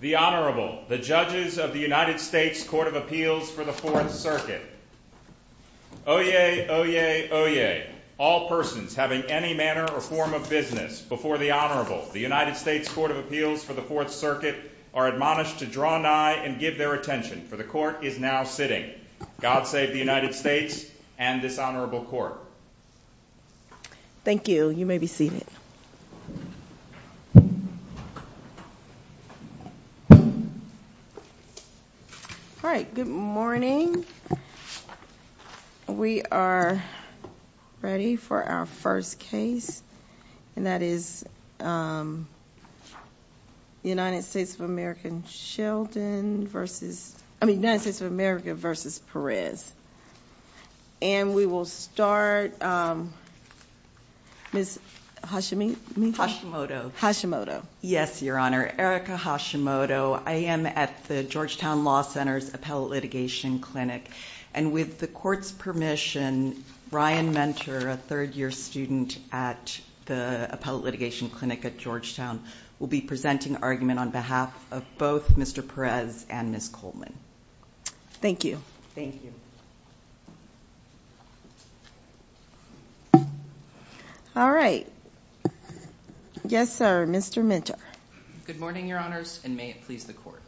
The Honorable, the judges of the United States Court of Appeals for the Fourth Circuit. Oyez, oyez, oyez. All persons having any manner or form of business before the Honorable, the United States Court of Appeals for the Fourth Circuit, are admonished to draw nigh and give their attention, for the Court is now sitting. God save the United States and this Honorable Court. Thank you. You may be seated. All right. Good morning. We are ready for our first case, and that is United States of America v. Perez. And we will start, Ms. Hashimoto. Hashimoto. Yes, Your Honor. Erica Hashimoto. I am at the Georgetown Law Center's Appellate Litigation Clinic, and with the Court's permission, Ryan Mentor, a third-year student at the Appellate Litigation Clinic at Georgetown, will be presenting argument on behalf of both Mr. Perez and Ms. Coleman. Thank you. Thank you. All right. Yes, sir. Mr. Mentor. Good morning, Your Honors, and may it please the Court.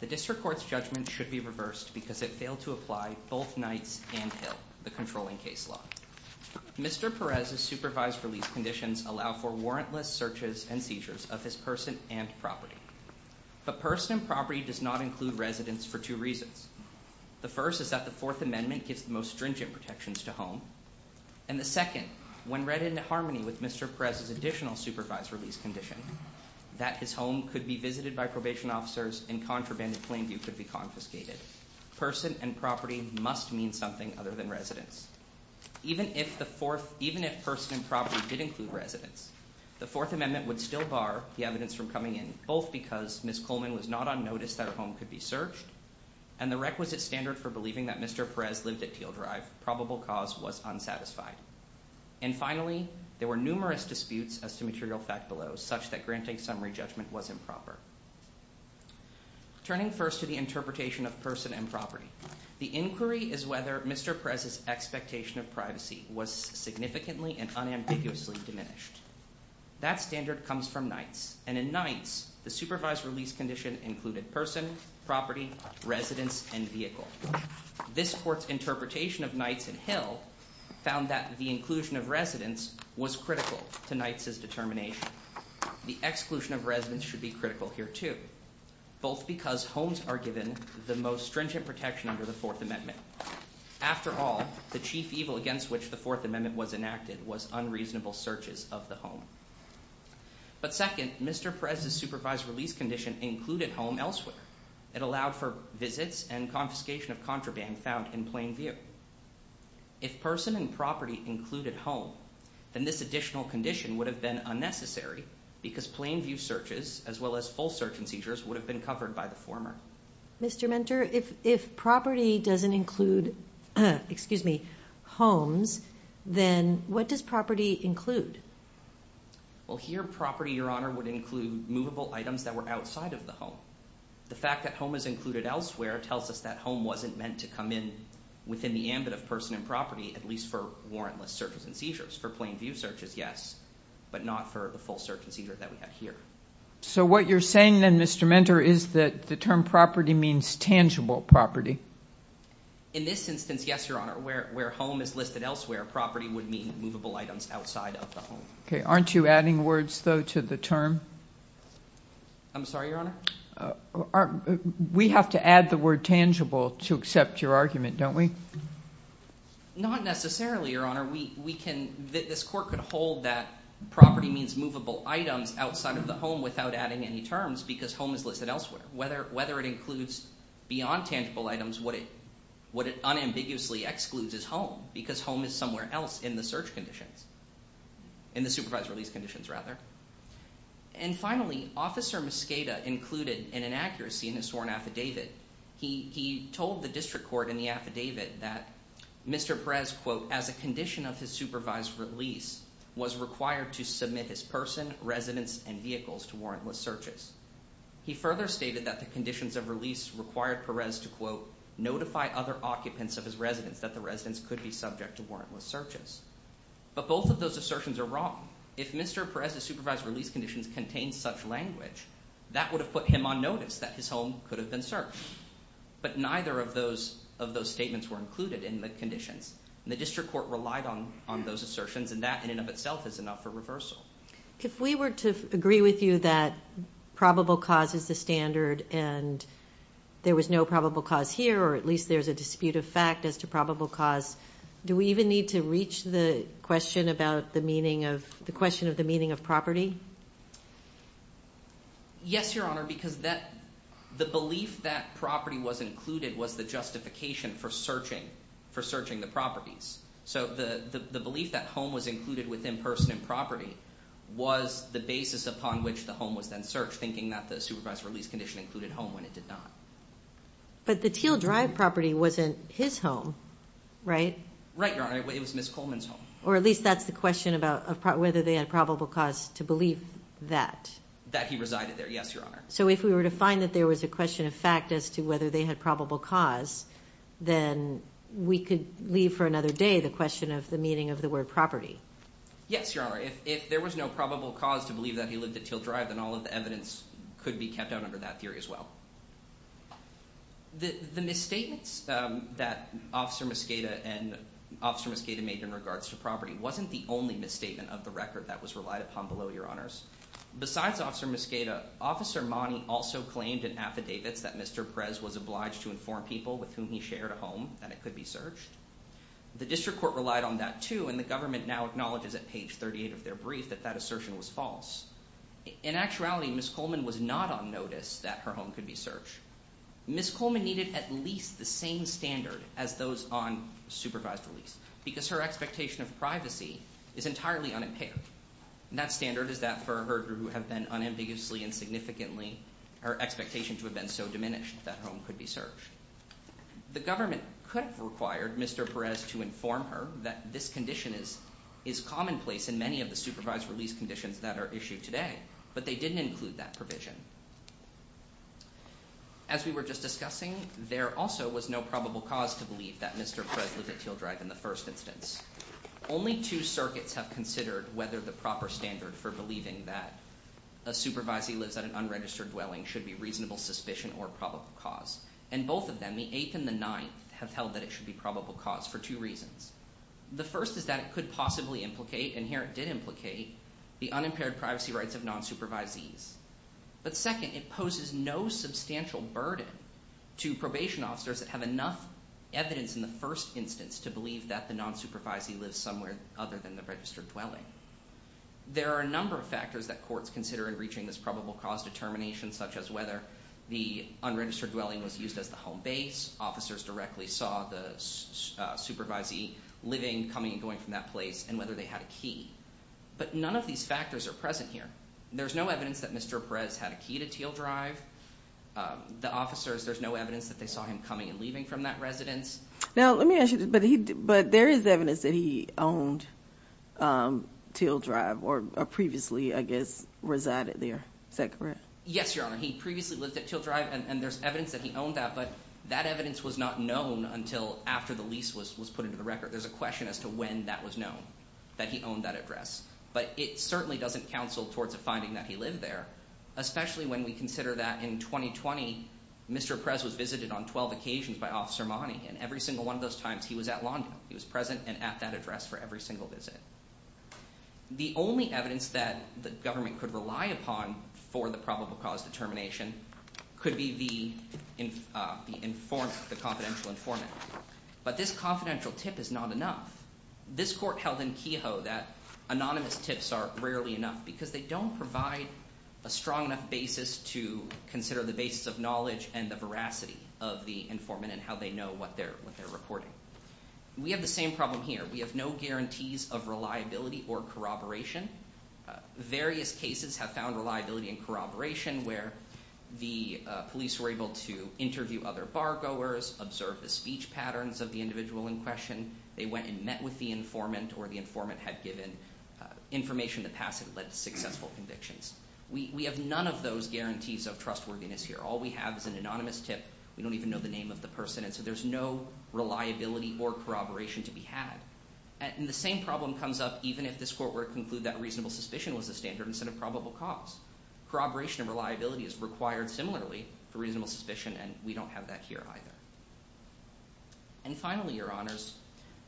The District Court's judgment should be reversed because it failed to apply both nights and Hill, the controlling case law. Mr. Perez's supervised release conditions allow for warrantless searches and seizures of his person and property. But person and property does not include residence for two reasons. The first is that the Fourth Amendment gives the most stringent protections to home. And the second, when read into harmony with Mr. Perez's additional supervised release condition, that his home could be visited by probation officers and contrabanded plain view could be confiscated. Person and property must mean something other than residence. Even if the Fourth – even if person and property did include residence, the Fourth Amendment would still bar the evidence from coming in, both because Ms. Coleman was not on notice that her home could be searched, and the requisite standard for believing that Mr. Perez lived at Teal Drive, probable cause, was unsatisfied. And finally, there were numerous disputes as to material fact below, such that granting summary judgment was improper. Turning first to the interpretation of person and property, the inquiry is whether Mr. Perez's expectation of privacy was significantly and unambiguously diminished. That standard comes from Nights, and in Nights, the supervised release condition included person, property, residence, and vehicle. This court's interpretation of Nights and Hill found that the inclusion of residence was critical to Nights' determination. The exclusion of residence should be critical here, too, both because homes are given the most stringent protection under the Fourth Amendment. After all, the chief evil against which the Fourth Amendment was enacted was unreasonable searches of the home. But second, Mr. Perez's supervised release condition included home elsewhere. It allowed for visits and confiscation of contraband found in plain view. If person and property included home, then this additional condition would have been unnecessary because plain view searches, as well as full search and seizures, would have been covered by the former. Mr. Mentor, if property doesn't include homes, then what does property include? Well, here property, Your Honor, would include movable items that were outside of the home. The fact that home is included elsewhere tells us that home wasn't meant to come in within the ambit of person and property, at least for warrantless searches and seizures. For plain view searches, yes, but not for the full search and seizure that we have here. So what you're saying then, Mr. Mentor, is that the term property means tangible property? In this instance, yes, Your Honor. Where home is listed elsewhere, property would mean movable items outside of the home. Okay, aren't you adding words, though, to the term? I'm sorry, Your Honor? We have to add the word tangible to accept your argument, don't we? Not necessarily, Your Honor. This court could hold that property means movable items outside of the home without adding any terms because home is listed elsewhere. Whether it includes beyond tangible items, what it unambiguously excludes is home because home is somewhere else in the search conditions, in the supervised release conditions, rather. And finally, Officer Mosqueda included an inaccuracy in his sworn affidavit. He told the district court in the affidavit that Mr. Perez, quote, as a condition of his supervised release, was required to submit his person, residence, and vehicles to warrantless searches. He further stated that the conditions of release required Perez to, quote, notify other occupants of his residence that the residence could be subject to warrantless searches. But both of those assertions are wrong. If Mr. Perez's supervised release conditions contained such language, that would have put him on notice that his home could have been searched. But neither of those statements were included in the conditions, and the district court relied on those assertions, and that in and of itself is enough for reversal. If we were to agree with you that probable cause is the standard and there was no probable cause here, or at least there's a dispute of fact as to probable cause, do we even need to reach the question about the meaning of – the question of the meaning of property? Yes, Your Honor, because that – the belief that property was included was the justification for searching – for searching the properties. So the belief that home was included within person and property was the basis upon which the home was then searched, thinking that the supervised release condition included home when it did not. But the Teal Drive property wasn't his home, right? Right, Your Honor. It was Ms. Coleman's home. Or at least that's the question about whether they had probable cause to believe that. That he resided there. Yes, Your Honor. So if we were to find that there was a question of fact as to whether they had probable cause, then we could leave for another day the question of the meaning of the word property. Yes, Your Honor. If there was no probable cause to believe that he lived at Teal Drive, then all of the evidence could be kept out under that theory as well. The misstatements that Officer Mosqueda and – Officer Mosqueda made in regards to property wasn't the only misstatement of the record that was relied upon below, Your Honors. Besides Officer Mosqueda, Officer Mani also claimed in affidavits that Mr. Prez was obliged to inform people with whom he shared a home that it could be searched. The district court relied on that too and the government now acknowledges at page 38 of their brief that that assertion was false. In actuality, Ms. Coleman was not on notice that her home could be searched. Ms. Coleman needed at least the same standard as those on supervised release because her expectation of privacy is entirely unimpaired. That standard is that for her who have been unambiguously and significantly – her expectation to have been so diminished that her home could be searched. The government could have required Mr. Prez to inform her that this condition is commonplace in many of the supervised release conditions that are issued today, but they didn't include that provision. As we were just discussing, there also was no probable cause to believe that Mr. Prez lived at Teal Drive in the first instance. Only two circuits have considered whether the proper standard for believing that a supervisee lives at an unregistered dwelling should be reasonable suspicion or probable cause. And both of them, the 8th and the 9th, have held that it should be probable cause for two reasons. The first is that it could possibly implicate, and here it did implicate, the unimpaired privacy rights of non-supervisees. But second, it poses no substantial burden to probation officers that have enough evidence in the first instance to believe that the non-supervisee lives somewhere other than the registered dwelling. There are a number of factors that courts consider in reaching this probable cause determination, such as whether the unregistered dwelling was used as the home base, officers directly saw the supervisee living, coming and going from that place, and whether they had a key. But none of these factors are present here. There's no evidence that Mr. Prez had a key to Teal Drive. The officers, there's no evidence that they saw him coming and leaving from that residence. Now, let me ask you this, but there is evidence that he owned Teal Drive or previously, I guess, resided there. Is that correct? Yes, Your Honor. He previously lived at Teal Drive, and there's evidence that he owned that, but that evidence was not known until after the lease was put into the record. There's a question as to when that was known, that he owned that address, but it certainly doesn't counsel towards a finding that he lived there, especially when we consider that in 2020, Mr. Prez was visited on 12 occasions by Officer Mani, and every single one of those times, he was at Lawndale. He was present and at that address for every single visit. The only evidence that the government could rely upon for the probable cause determination could be the informant, the confidential informant. But this confidential tip is not enough. This court held in Kehoe that anonymous tips are rarely enough because they don't provide a strong enough basis to consider the basis of knowledge and the veracity of the informant and how they know what they're reporting. We have the same problem here. We have no guarantees of reliability or corroboration. Various cases have found reliability and corroboration where the police were able to interview other bar goers, observe the speech patterns of the individual in question. They went and met with the informant, or the informant had given information in the past that led to successful convictions. We have none of those guarantees of trustworthiness here. All we have is an anonymous tip. We don't even know the name of the person, and so there's no reliability or corroboration to be had. And the same problem comes up even if this court were to conclude that reasonable suspicion was the standard instead of probable cause. Corroboration and reliability is required similarly for reasonable suspicion, and we don't have that here either. And finally, your honors,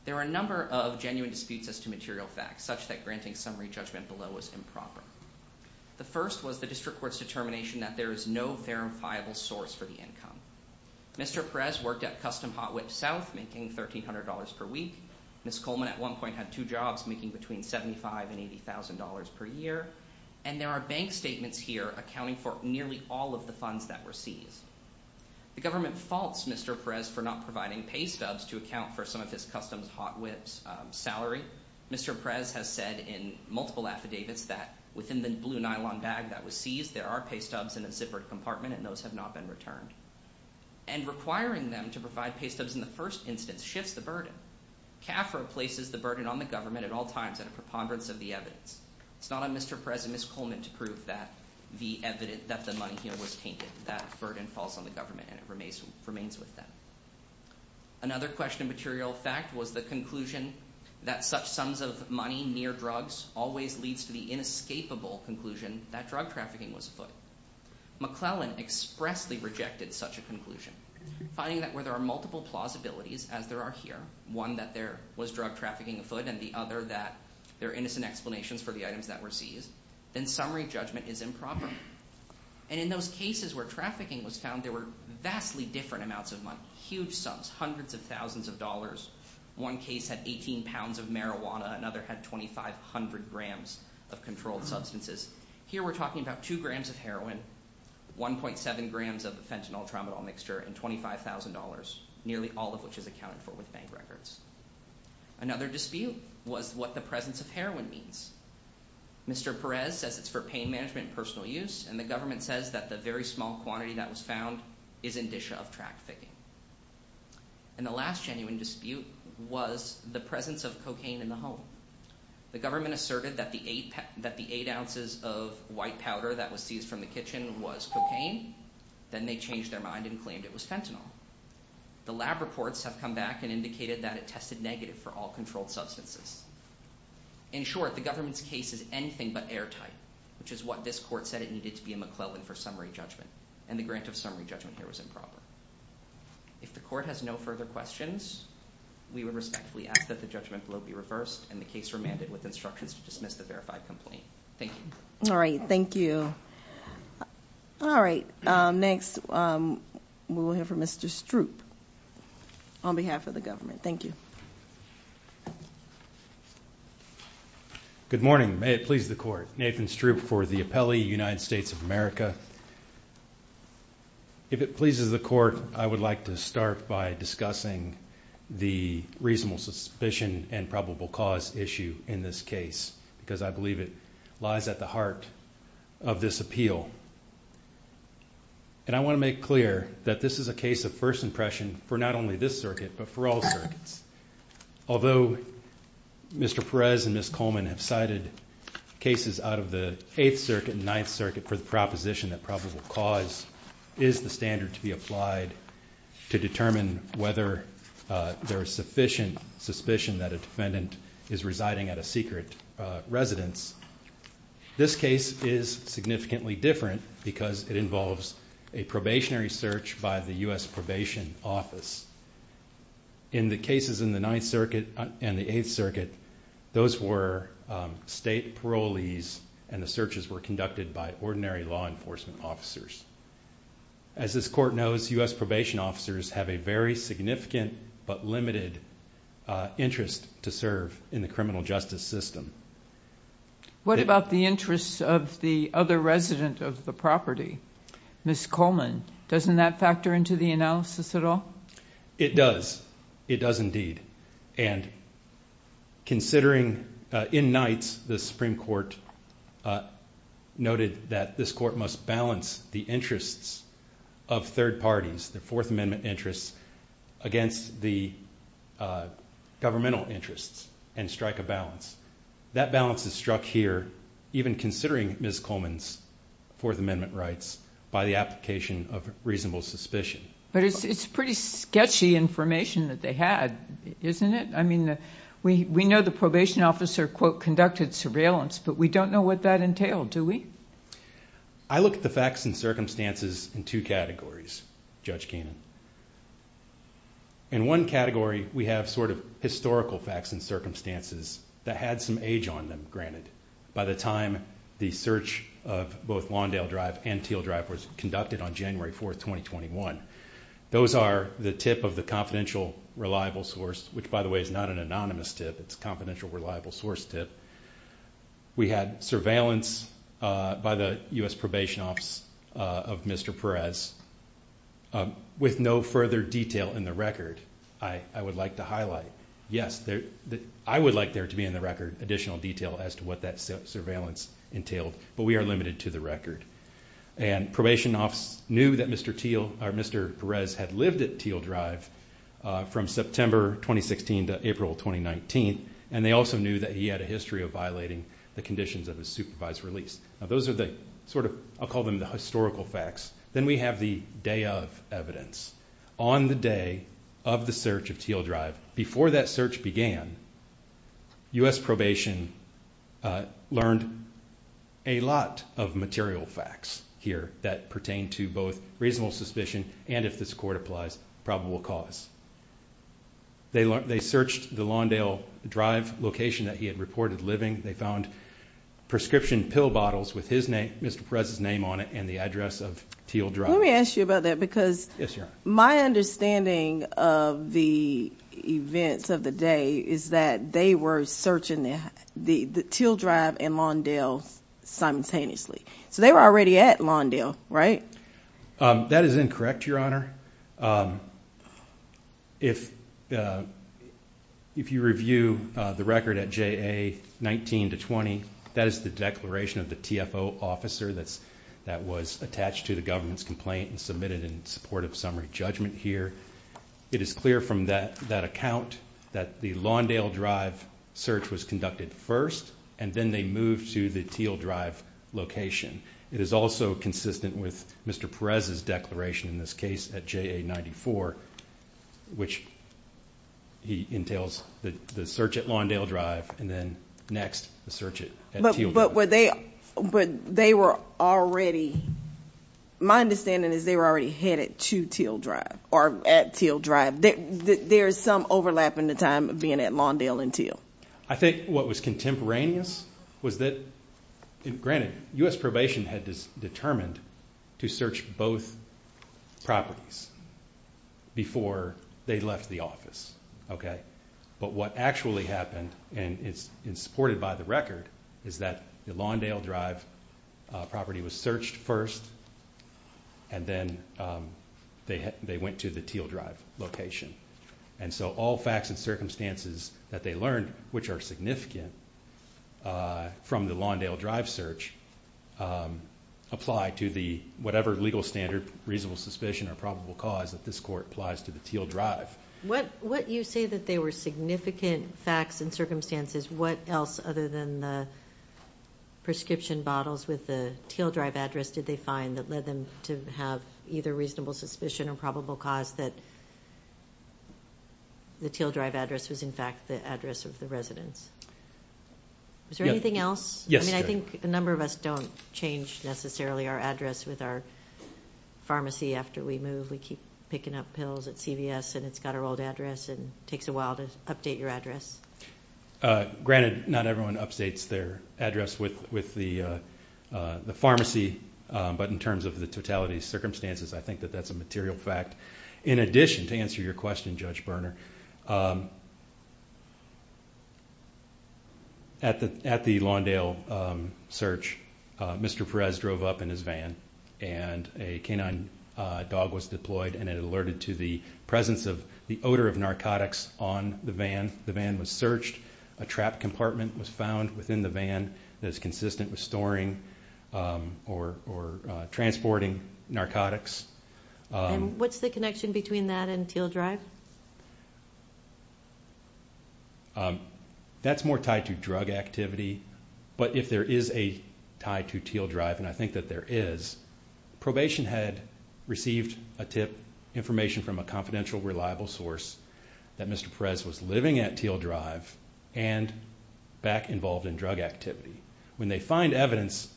there are a number of genuine disputes as to material facts such that granting summary judgment below is improper. The first was the district court's determination that there is no verifiable source for the income. Mr. Perez worked at Custom Hot Whip South making $1,300 per week. Ms. Coleman at one point had two jobs making between $75,000 and $80,000 per year. And there are bank statements here accounting for nearly all of the funds that were seized. The government faults Mr. Perez for not providing pay stubs to account for some of his Custom Hot Whip's salary. Mr. Perez has said in multiple affidavits that within the blue nylon bag that was seized there are pay stubs in a zippered compartment and those have not been returned. And requiring them to provide pay stubs in the first instance shifts the burden. CAFR places the burden on the government at all times at a preponderance of the evidence. It's not on Mr. Perez and Ms. Coleman to prove that the money here was tainted. That burden falls on the government and it remains with them. Another question of material fact was the conclusion that such sums of money near drugs always leads to the inescapable conclusion that drug trafficking was afoot. McClellan expressly rejected such a conclusion, finding that where there are multiple plausibilities as there are here, one that there was drug trafficking afoot and the other that there are innocent explanations for the items that were seized, then summary judgment is improper. And in those cases where trafficking was found there were vastly different amounts of money, huge sums, hundreds of thousands of dollars. One case had 18 pounds of marijuana, another had 2,500 grams of controlled substances. Here we're talking about 2 grams of heroin, 1.7 grams of fentanyltramadol mixture and $25,000, nearly all of which is accounted for with bank records. Another dispute was what the presence of heroin means. Mr. Perez says it's for pain management and personal use and the government says that the very small quantity that was found is indicia of trafficking. And the last genuine dispute was the presence of cocaine in the home. The government asserted that the 8 ounces of white powder that was seized from the kitchen was cocaine. Then they changed their mind and claimed it was fentanyl. The lab reports have come back and indicated that it tested negative for all controlled substances. In short, the government's case is anything but airtight, which is what this court said it needed to be a McClellan for summary judgment. And the grant of summary judgment here was improper. If the court has no further questions, we would respectfully ask that the judgment below be reversed and the case remanded with instructions to dismiss the verified complaint. Thank you. All right. Thank you. All right. Next, we will hear from Mr. Stroop on behalf of the government. Thank you. Good morning. May it please the court. Nathan Stroop for the appellee, United States of America. If it pleases the court, I would like to start by discussing the reasonable suspicion and probable cause issue in this case, because I believe it lies at the heart of this appeal. And I want to make clear that this is a case of first impression for not only this circuit, but for all circuits. Although Mr. Perez and Ms. Coleman have cited cases out of the Eighth Circuit and Ninth Circuit for the proposition that probable cause is the standard to be applied to determine whether there is sufficient suspicion that a defendant is residing at a secret residence, this case is significantly different because it involves a probationary search by the U.S. Probation Office. In the cases in the Ninth Circuit and the Eighth Circuit, those were state parolees, and the searches were conducted by ordinary law enforcement officers. As this court knows, U.S. Probation Officers have a very significant but limited interest to serve in the criminal justice system. What about the interests of the other resident of the property, Ms. Coleman? Doesn't that factor into the analysis at all? It does. It does indeed. And considering in Knight's, the Supreme Court noted that this court must balance the interests of third parties, the Fourth Amendment interests, against the governmental interests and strike a balance. That balance is struck here, even considering Ms. Coleman's Fourth Amendment rights, by the application of reasonable suspicion. But it's pretty sketchy information that they had, isn't it? I mean, we know the probation officer, quote, conducted surveillance, but we don't know what that entailed, do we? I look at the facts and circumstances in two categories, Judge Kanan. In one category, we have sort of historical facts and circumstances that had some age on them, granted, by the time the search of both Lawndale Drive and Teal Drive was conducted on January 4th, 2021. Those are the tip of the confidential reliable source, which, by the way, is not an anonymous tip. It's a confidential reliable source tip. We had surveillance by the U.S. Probation Office of Mr. Perez with no further detail in the record, I would like to highlight. Yes, I would like there to be in the record additional detail as to what that surveillance entailed, but we are limited to the record. And probation office knew that Mr. Perez had lived at Teal Drive from September 2016 to April 2019, and they also knew that he had a history of violating the conditions of his supervised release. Now, those are the sort of, I'll call them the historical facts. Then we have the day of evidence. On the day of the search of Teal Drive, before that search began, U.S. Probation learned a lot of material facts here that pertain to both reasonable suspicion and, if this court applies, probable cause. They searched the Lawndale Drive location that he had reported living. They found prescription pill bottles with his name, Mr. Perez's name on it, and the address of Teal Drive. Let me ask you about that because my understanding of the events of the day is that they were searching the Teal Drive and Lawndale simultaneously. So they were already at Lawndale, right? That is incorrect, Your Honor. If you review the record at JA 19-20, that is the declaration of the TFO officer that was attached to the government's complaint and submitted in support of summary judgment here. It is clear from that account that the Lawndale Drive search was conducted first, and then they moved to the Teal Drive location. It is also consistent with Mr. Perez's declaration in this case at JA 94, which entails the search at Lawndale Drive, and then, next, the search at Teal Drive. But were they already—my understanding is they were already headed to Teal Drive or at Teal Drive. There is some overlap in the time of being at Lawndale and Teal. I think what was contemporaneous was that, granted, U.S. Probation had determined to search both properties before they left the office. But what actually happened, and it's supported by the record, is that the Lawndale Drive property was searched first, and then they went to the Teal Drive location. And so all facts and circumstances that they learned, which are significant from the Lawndale Drive search, apply to the—whatever legal standard, reasonable suspicion, or probable cause that this Court applies to the Teal Drive. What you say that they were significant facts and circumstances, what else other than the prescription bottles with the Teal Drive address did they find that led them to have either reasonable suspicion or probable cause that the Teal Drive address was, in fact, the address of the residence? Is there anything else? I mean, I think a number of us don't change, necessarily, our address with our pharmacy after we move. We keep picking up pills at CVS, and it's got our old address, and it takes a while to update your address. Granted, not everyone updates their address with the pharmacy, but in terms of the totality of circumstances, I think that that's a material fact. In addition, to answer your question, Judge Berner, at the Lawndale search, Mr. Perez drove up in his van, and a canine dog was deployed, and it alerted to the presence of the odor of narcotics on the van. The van was searched. A trap compartment was found within the van that is consistent with storing or transporting narcotics. And what's the connection between that and Teal Drive? That's more tied to drug activity, but if there is a tie to Teal Drive, and I think that there is, probation had received a tip, information from a confidential, reliable source that Mr. Perez was living at Teal Drive and back involved in drug activity. When they find evidence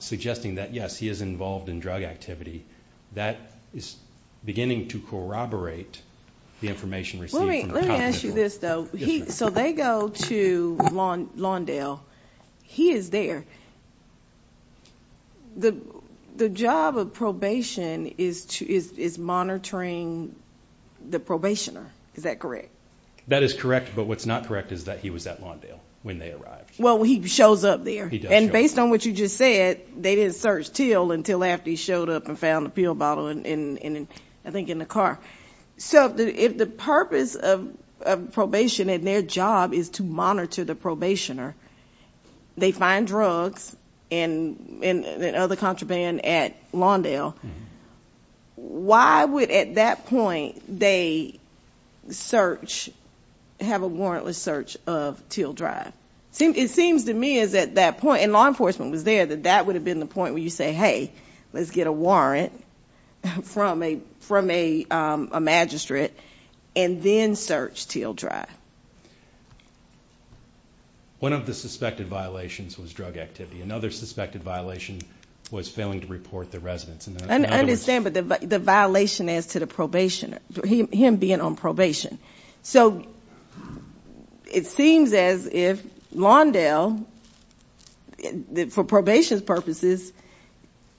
suggesting that, yes, he is involved in drug activity, that is beginning to corroborate the information received from the confidential source. Let me ask you this, though. So they go to Lawndale. He is there. The job of probation is monitoring the probationer. Is that correct? That is correct. But what's not correct is that he was at Lawndale when they arrived. Well, he shows up there. He does show up there. And based on what you just said, they didn't search Teal until after he showed up and found the pill bottle, I think, in the car. So if the purpose of probation and their job is to monitor the probationer, they find drugs and other contraband at Lawndale, why would, at that point, they search, have a warrantless search of Teal Drive? It seems to me as at that point, and law enforcement was there, that that would have been the point where you say, hey, let's get a warrant from a magistrate and then search Teal Drive. One of the suspected violations was drug activity. Another suspected violation was failing to report the residence. I understand, but the violation as to the probationer, him being on probation. So it seems as if Lawndale, for probation's purposes,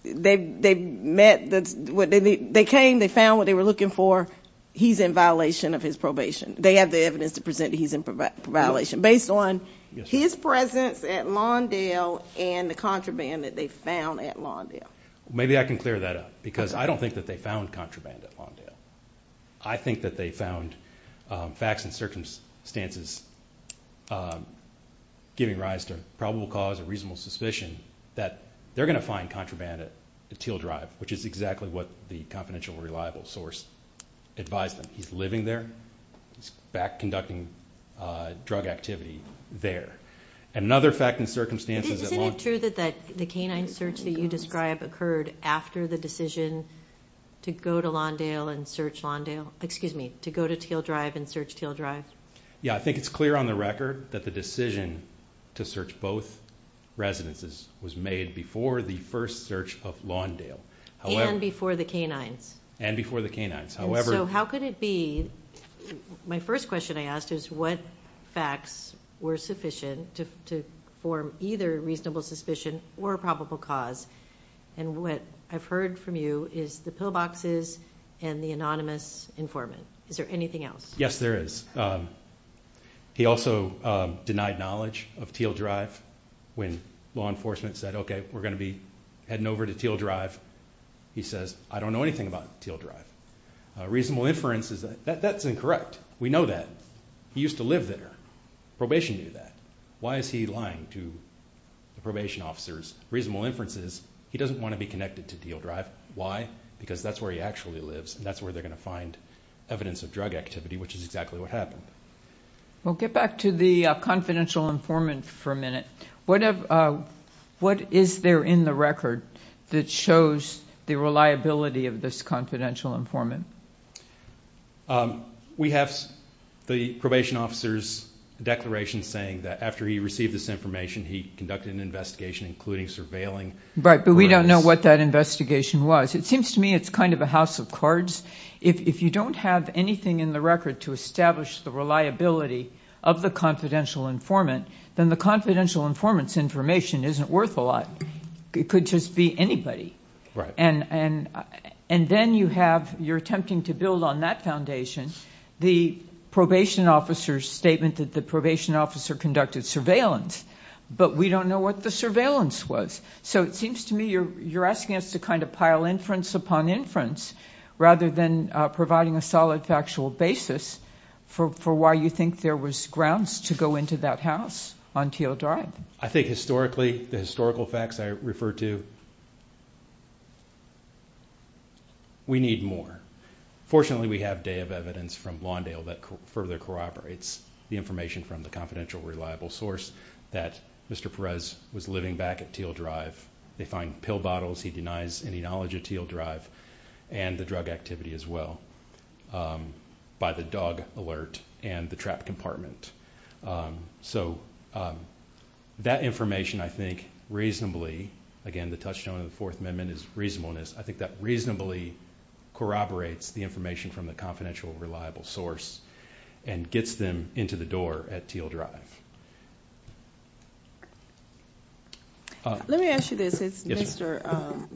they met, they came, they found what they were looking for, he's in violation of his probation. They have the evidence to present he's in violation, based on his presence at Lawndale and the contraband that they found at Lawndale. Maybe I can clear that up because I don't think that they found contraband at Lawndale. I think that they found facts and circumstances giving rise to probable cause or reasonable suspicion that they're going to find contraband at Teal Drive, which is exactly what the confidential reliable source advised them. He's living there. He's back conducting drug activity there. And another fact and circumstances at Lawndale. Is it true that the canine search that you describe occurred after the decision to go to Lawndale and search Lawndale? Excuse me, to go to Teal Drive and search Teal Drive? Yeah, I think it's clear on the record that the decision to search both residences was made before the first search of Lawndale. And before the canines. And before the canines. So how could it be? My first question I asked is what facts were sufficient to form either reasonable suspicion or probable cause? And what I've heard from you is the pillboxes and the anonymous informant. Is there anything else? Yes, there is. He also denied knowledge of Teal Drive when law enforcement said, okay, we're going to be heading over to Teal Drive. He says, I don't know anything about Teal Drive. Reasonable inference is that that's incorrect. We know that. He used to live there. Probation knew that. Why is he lying to the probation officers? Reasonable inference is he doesn't want to be connected to Teal Drive. Why? Because that's where he actually lives and that's where they're going to find evidence of drug activity, which is exactly what happened. Well, get back to the confidential informant for a minute. What is there in the record that shows the reliability of this confidential informant? We have the probation officer's declaration saying that after he received this information, he conducted an investigation including surveilling. Right, but we don't know what that investigation was. It seems to me it's kind of a house of cards. If you don't have anything in the record to establish the reliability of the confidential informant, then the confidential informant's information isn't worth a lot. It could just be anybody. And then you're attempting to build on that foundation the probation officer's statement that the probation officer conducted surveillance, but we don't know what the surveillance was. So it seems to me you're asking us to kind of pile inference upon inference rather than providing a solid factual basis for why you think there was grounds to go into that house on Teal Drive. I think historically, the historical facts I refer to, we need more. Fortunately, we have day of evidence from Lawndale that further corroborates the information from the confidential reliable source that Mr. Perez was living back at Teal Drive. They find pill bottles. He denies any knowledge of Teal Drive and the drug activity as well by the dog alert and the trap compartment. So that information, I think, reasonably, again, the touchstone of the Fourth Amendment is reasonableness. I think that reasonably corroborates the information from the confidential reliable source and gets them into the door at Teal Drive. Let me ask you this. Mr.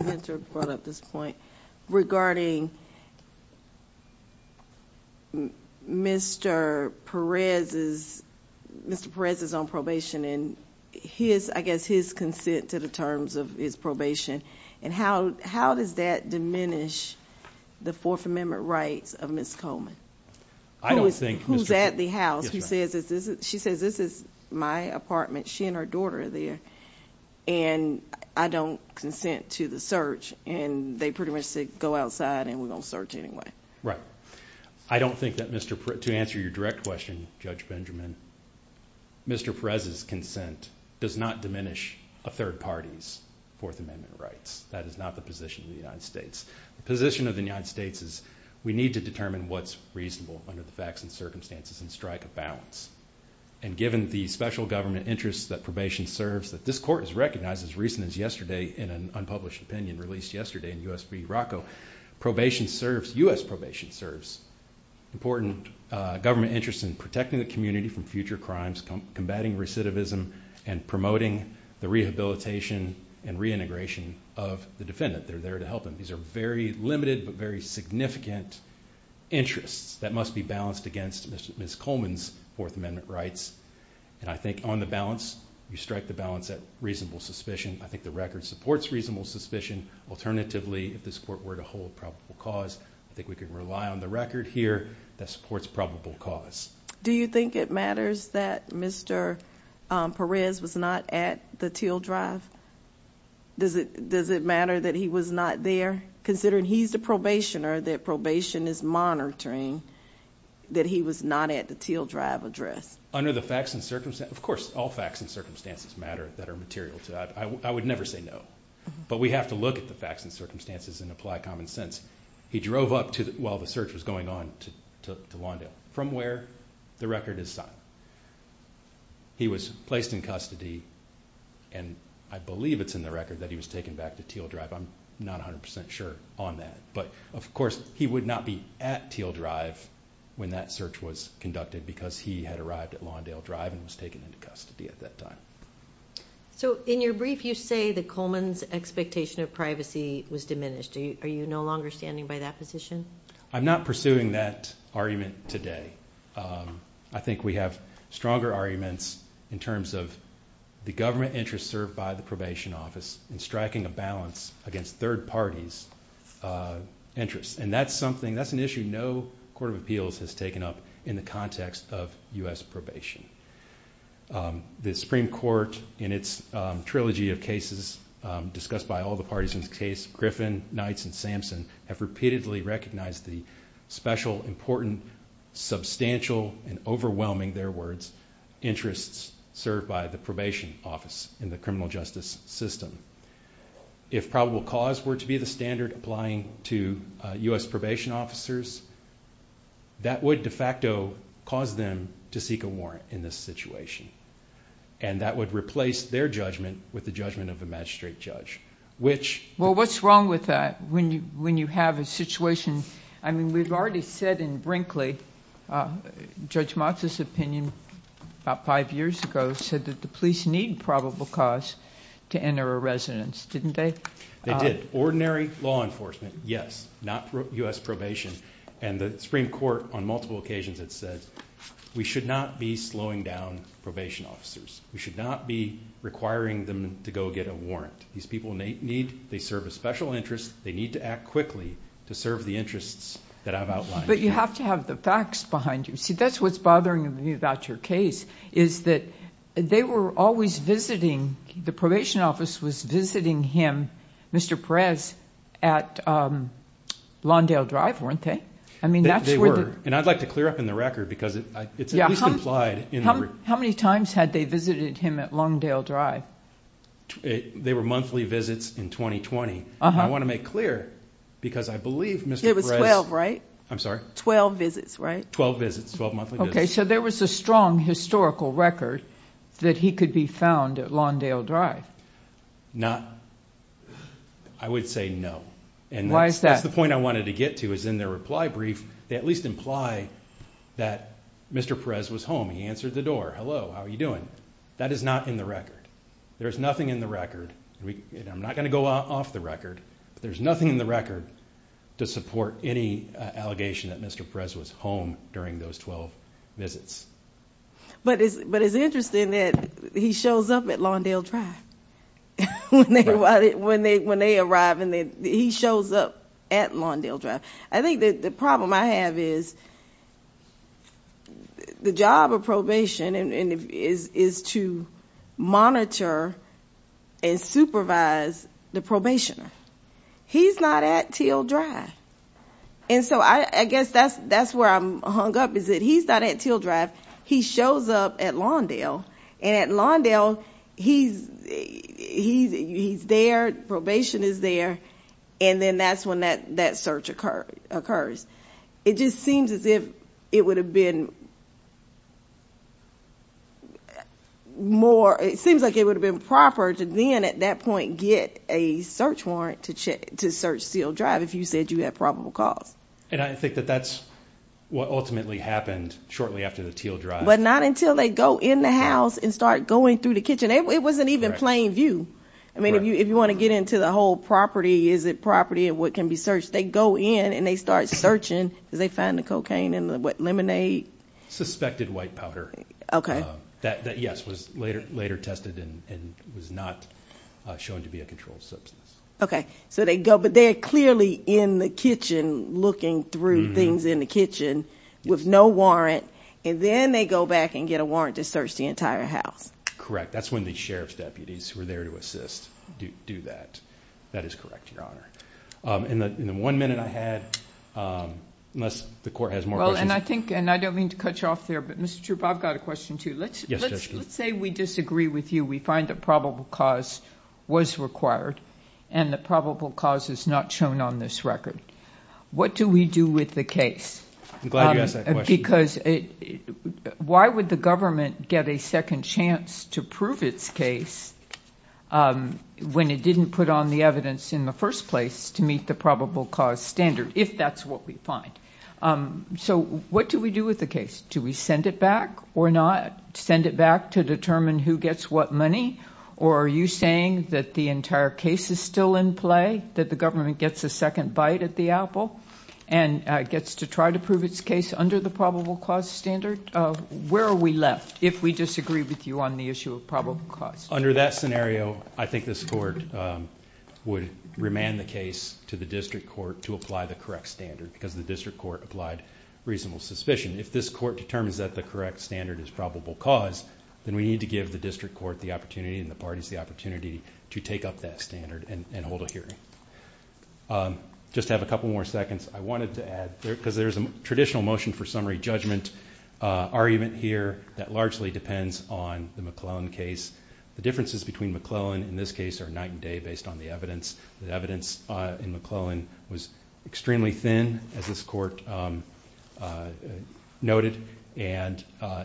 Mentor brought up this point regarding Mr. Perez's own probation and his, I guess, his consent to the terms of his probation, and how does that diminish the Fourth Amendment rights of Ms. Coleman? Who's at the house? She says this is my apartment. She and her daughter are there, and I don't consent to the search, and they pretty much said go outside and we're going to search anyway. Right. I don't think that Mr. Perez, to answer your direct question, Judge Benjamin, Mr. Perez's consent does not diminish a third party's Fourth Amendment rights. That is not the position of the United States. The position of the United States is we need to determine what's reasonable under the facts and circumstances and strike a balance. And given the special government interests that probation serves, that this court has recognized as recent as yesterday in an unpublished opinion released yesterday in U.S. v. Morocco, probation serves, U.S. probation serves important government interests in protecting the community from future crimes, combating recidivism, and promoting the rehabilitation and reintegration of the defendant. They're there to help them. These are very limited but very significant interests that must be balanced against Ms. Coleman's Fourth Amendment rights. And I think on the balance, you strike the balance at reasonable suspicion. I think the record supports reasonable suspicion. Alternatively, if this court were to hold probable cause, I think we could rely on the record here that supports probable cause. Do you think it matters that Mr. Perez was not at the Teal Drive? Does it matter that he was not there? Considering he's the probationer, that probation is monitoring, that he was not at the Teal Drive address? Under the facts and circumstances, of course, all facts and circumstances matter that are material to that. I would never say no. But we have to look at the facts and circumstances and apply common sense. He drove up while the search was going on to Lawndale from where the record is signed. He was placed in custody, and I believe it's in the record that he was taken back to Teal Drive. I'm not 100% sure on that. But, of course, he would not be at Teal Drive when that search was conducted because he had arrived at Lawndale Drive and was taken into custody at that time. So in your brief, you say that Coleman's expectation of privacy was diminished. Are you no longer standing by that position? I'm not pursuing that argument today. I think we have stronger arguments in terms of the government interest served by the probation office in striking a balance against third parties' interests. And that's something, that's an issue no court of appeals has taken up in the context of U.S. probation. The Supreme Court, in its trilogy of cases discussed by all the parties in this case, Griffin, Knights, and Sampson, have repeatedly recognized the special, important, substantial, and overwhelming, their words, interests served by the probation office in the criminal justice system. If probable cause were to be the standard applying to U.S. probation officers, that would de facto cause them to seek a warrant in this situation. And that would replace their judgment with the judgment of a magistrate judge. Well, what's wrong with that when you have a situation? I mean, we've already said in Brinkley, Judge Motz's opinion about five years ago, said that the police need probable cause to enter a residence. Didn't they? They did. Ordinary law enforcement, yes, not U.S. probation. And the Supreme Court, on multiple occasions, had said, we should not be slowing down probation officers. We should not be requiring them to go get a warrant. These people need, they serve a special interest, they need to act quickly to serve the interests that I've outlined here. But you have to have the facts behind you. See, that's what's bothering me about your case, is that they were always visiting, the probation office was visiting him, Mr. Perez, at Longdale Drive, weren't they? They were, and I'd like to clear up in the record because it's at least implied. How many times had they visited him at Longdale Drive? They were monthly visits in 2020. I want to make clear, because I believe Mr. Perez. It was 12, right? I'm sorry? 12 visits, right? 12 visits, 12 monthly visits. Okay, so there was a strong historical record that he could be found at Longdale Drive. Not, I would say no. Why is that? And that's the point I wanted to get to, is in their reply brief, they at least imply that Mr. Perez was home, he answered the door, hello, how are you doing? That is not in the record. There is nothing in the record, and I'm not going to go off the record, but there's nothing in the record to support any allegation that Mr. Perez was home during those 12 visits. But it's interesting that he shows up at Longdale Drive when they arrive, and he shows up at Longdale Drive. I think that the problem I have is the job of probation is to monitor and supervise the probationer. He's not at Teal Drive. And so I guess that's where I'm hung up, is that he's not at Teal Drive. He shows up at Longdale, and at Longdale, he's there, probation is there, and then that's when that search occurs. It just seems as if it would have been more, it seems like it would have been proper to then at that point get a search warrant to search Teal Drive if you said you had probable cause. And I think that that's what ultimately happened shortly after the Teal Drive. But not until they go in the house and start going through the kitchen. It wasn't even plain view. I mean, if you want to get into the whole property, is it property and what can be searched, they go in and they start searching because they find the cocaine and what, lemonade? Suspected white powder. That, yes, was later tested and was not shown to be a controlled substance. Okay. So they go, but they are clearly in the kitchen looking through things in the kitchen with no warrant, and then they go back and get a warrant to search the entire house. Correct. That's when the sheriff's deputies were there to assist, do that. That is correct. Your honor. In the, in the one minute I had unless the court has more. And I think, and I don't mean to cut you off there, but Mr. Troop, I've got a question too. Let's let's, let's say we disagree with you. We find that probable cause was required. And the probable cause is not shown on this record. What do we do with the case? I'm glad you asked that question. Because why would the government get a second chance to prove its case? When it didn't put on the evidence in the first place to meet the probable cause standard, if that's what we find. So what do we do with the case? Do we send it back or not send it back to determine who gets what money? Or are you saying that the entire case is still in play, that the government gets a second bite at the apple. And gets to try to prove its case under the probable cause standard. Where are we left? If we disagree with you on the issue of probable cause under that scenario, I think this court would remand the case to the district court to apply the correct standard because the district court applied reasonable suspicion. If this court determines that the correct standard is probable cause, then we need to give the district court the opportunity and the parties, the opportunity to take up that standard and hold a hearing. Just have a couple more seconds. I wanted to add because there's a traditional motion for summary judgment argument here that largely depends on the McClellan case. The differences between McClellan in this case are night and day based on the evidence. The evidence in McClellan was extremely thin as this court noted. And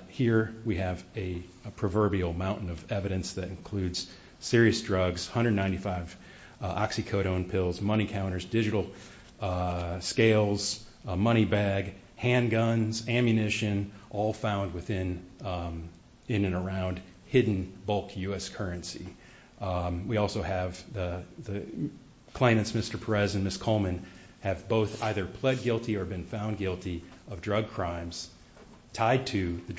here we have a proverbial mountain of evidence that includes serious drugs, 195 oxycodone pills, money counters, digital scales, money bag, handguns, ammunition, all found within, in and around, hidden bulk U.S. currency. We also have the claimants, Mr. Perez and Ms. Coleman, have both either pled guilty or been found guilty of drug crimes tied to the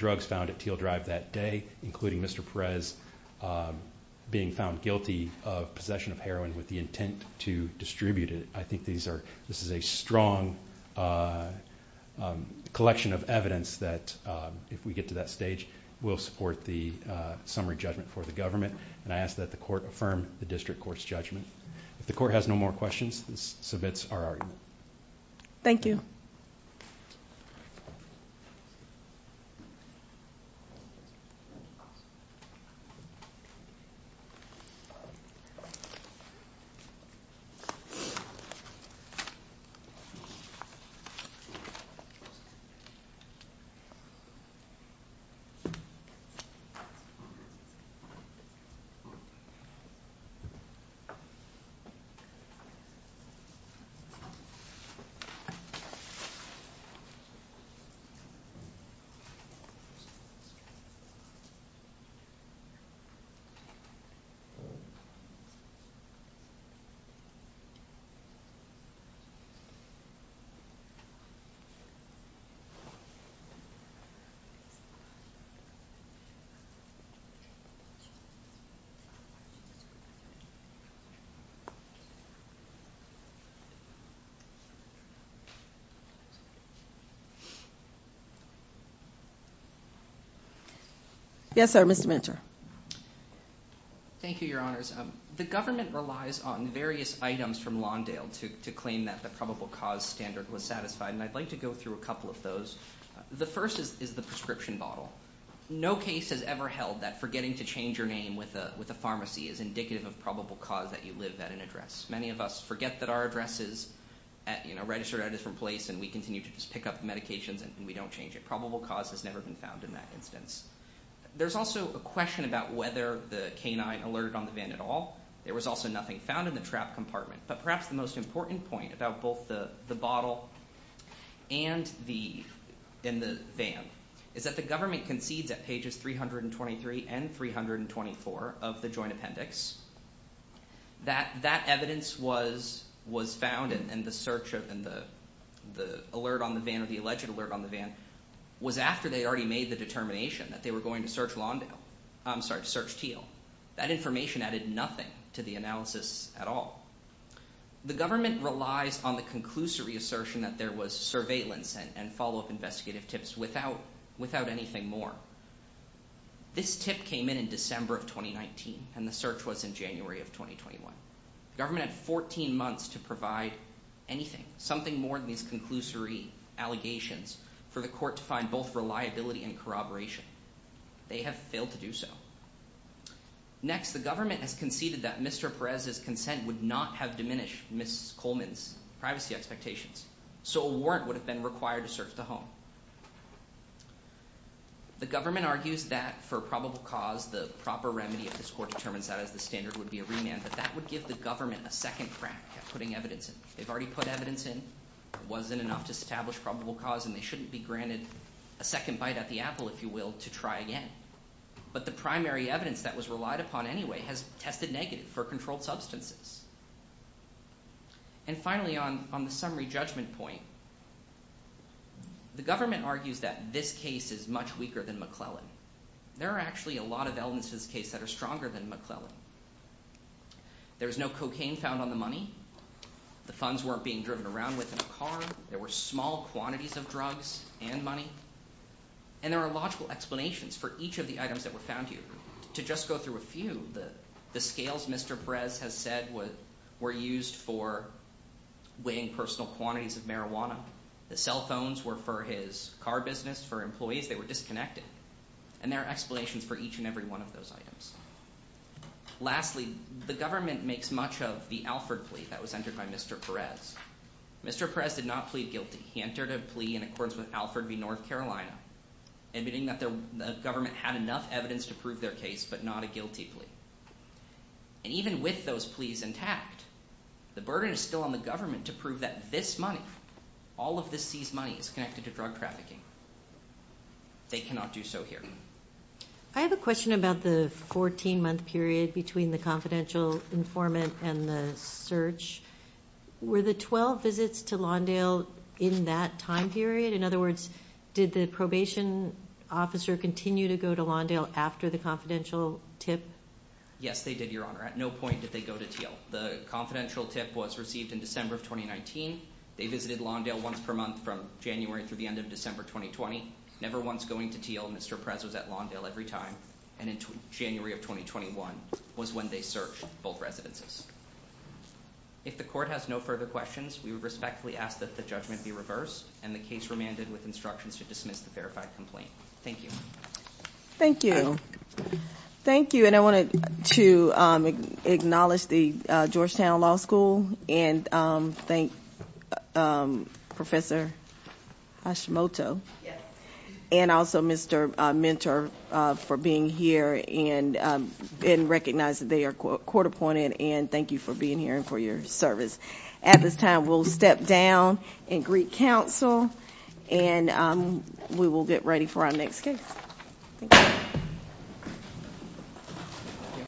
possession of heroin with the intent to distribute it. I think this is a strong collection of evidence that if we get to that stage will support the summary judgment for the government. And I ask that the court affirm the district court's judgment. If the court has no more questions, this submits our argument. Thank you. Thank you. Yes, sir, Mr. Mentor. Thank you, Your Honors. The government relies on various items from Lawndale to claim that the probable cause standard was satisfied. And I'd like to go through a couple of those. The first is the prescription bottle. No case has ever held that forgetting to change your name with a pharmacy is indicative of probable cause that you live at an address. Many of us forget that our address is registered at a different place and we continue to just pick up medications and we don't change it. Probable cause has never been found in that instance. There's also a question about whether the canine alerted on the van at all. There was also nothing found in the trap compartment. But perhaps the most important point about both the bottle and the van is that the government concedes at pages 323 and 324 of the joint appendix that that evidence was found in the search of the alert on the van or the alleged alert on the van was after they already made the determination that they were going to search Lawndale. I'm sorry, to search Teal. That information added nothing to the analysis at all. The government relies on the conclusory assertion that there was surveillance and follow-up investigative tips without anything more. This tip came in in December of 2019 and the search was in January of 2021. The government had 14 months to provide anything, something more than these conclusory allegations for the court to find both reliability and corroboration. They have failed to do so. Next, the government has conceded that Mr. Perez's consent would not have diminished Ms. Coleman's privacy expectations, so a warrant would have been required to search the home. The government argues that for probable cause, the proper remedy if this court determines that as the standard would be a remand, but that would give the government a second crack at putting evidence in. They've already put evidence in. It wasn't enough to establish probable cause, and they shouldn't be granted a second bite at the apple, if you will, to try again. But the primary evidence that was relied upon anyway has tested negative for controlled substances. And finally, on the summary judgment point, the government argues that this case is much weaker than McClellan. There are actually a lot of elements to this case that are stronger than McClellan. There was no cocaine found on the money. The funds weren't being driven around with in a car. There were small quantities of drugs and money. And there are logical explanations for each of the items that were found here. To just go through a few, the scales Mr. Perez has said were used for weighing personal quantities of marijuana. The cell phones were for his car business, for employees. They were disconnected. And there are explanations for each and every one of those items. Lastly, the government makes much of the Alford plea that was entered by Mr. Perez. Mr. Perez did not plead guilty. He entered a plea in accordance with Alford v. North Carolina, admitting that the government had enough evidence to prove their case, but not a guilty plea. And even with those pleas intact, the burden is still on the government to prove that this money, all of this seized money, is connected to drug trafficking. They cannot do so here. I have a question about the 14-month period between the confidential informant and the search. Were the 12 visits to Lawndale in that time period? In other words, did the probation officer continue to go to Lawndale after the confidential tip? Yes, they did, Your Honor. At no point did they go to Teal. The confidential tip was received in December of 2019. They visited Lawndale once per month from January through the end of December 2020. Never once going to Teal, Mr. Perez was at Lawndale every time. And in January of 2021 was when they searched both residences. If the court has no further questions, we would respectfully ask that the judgment be reversed and the case remanded with instructions to dismiss the verified complaint. Thank you. Thank you. Thank you, and I wanted to acknowledge the Georgetown Law School and thank Professor Hashimoto and also Mr. Mentor for being here and recognize that they are court appointed and thank you for being here and for your service. At this time, we'll step down and greet counsel, and we will get ready for our next case. Thank you.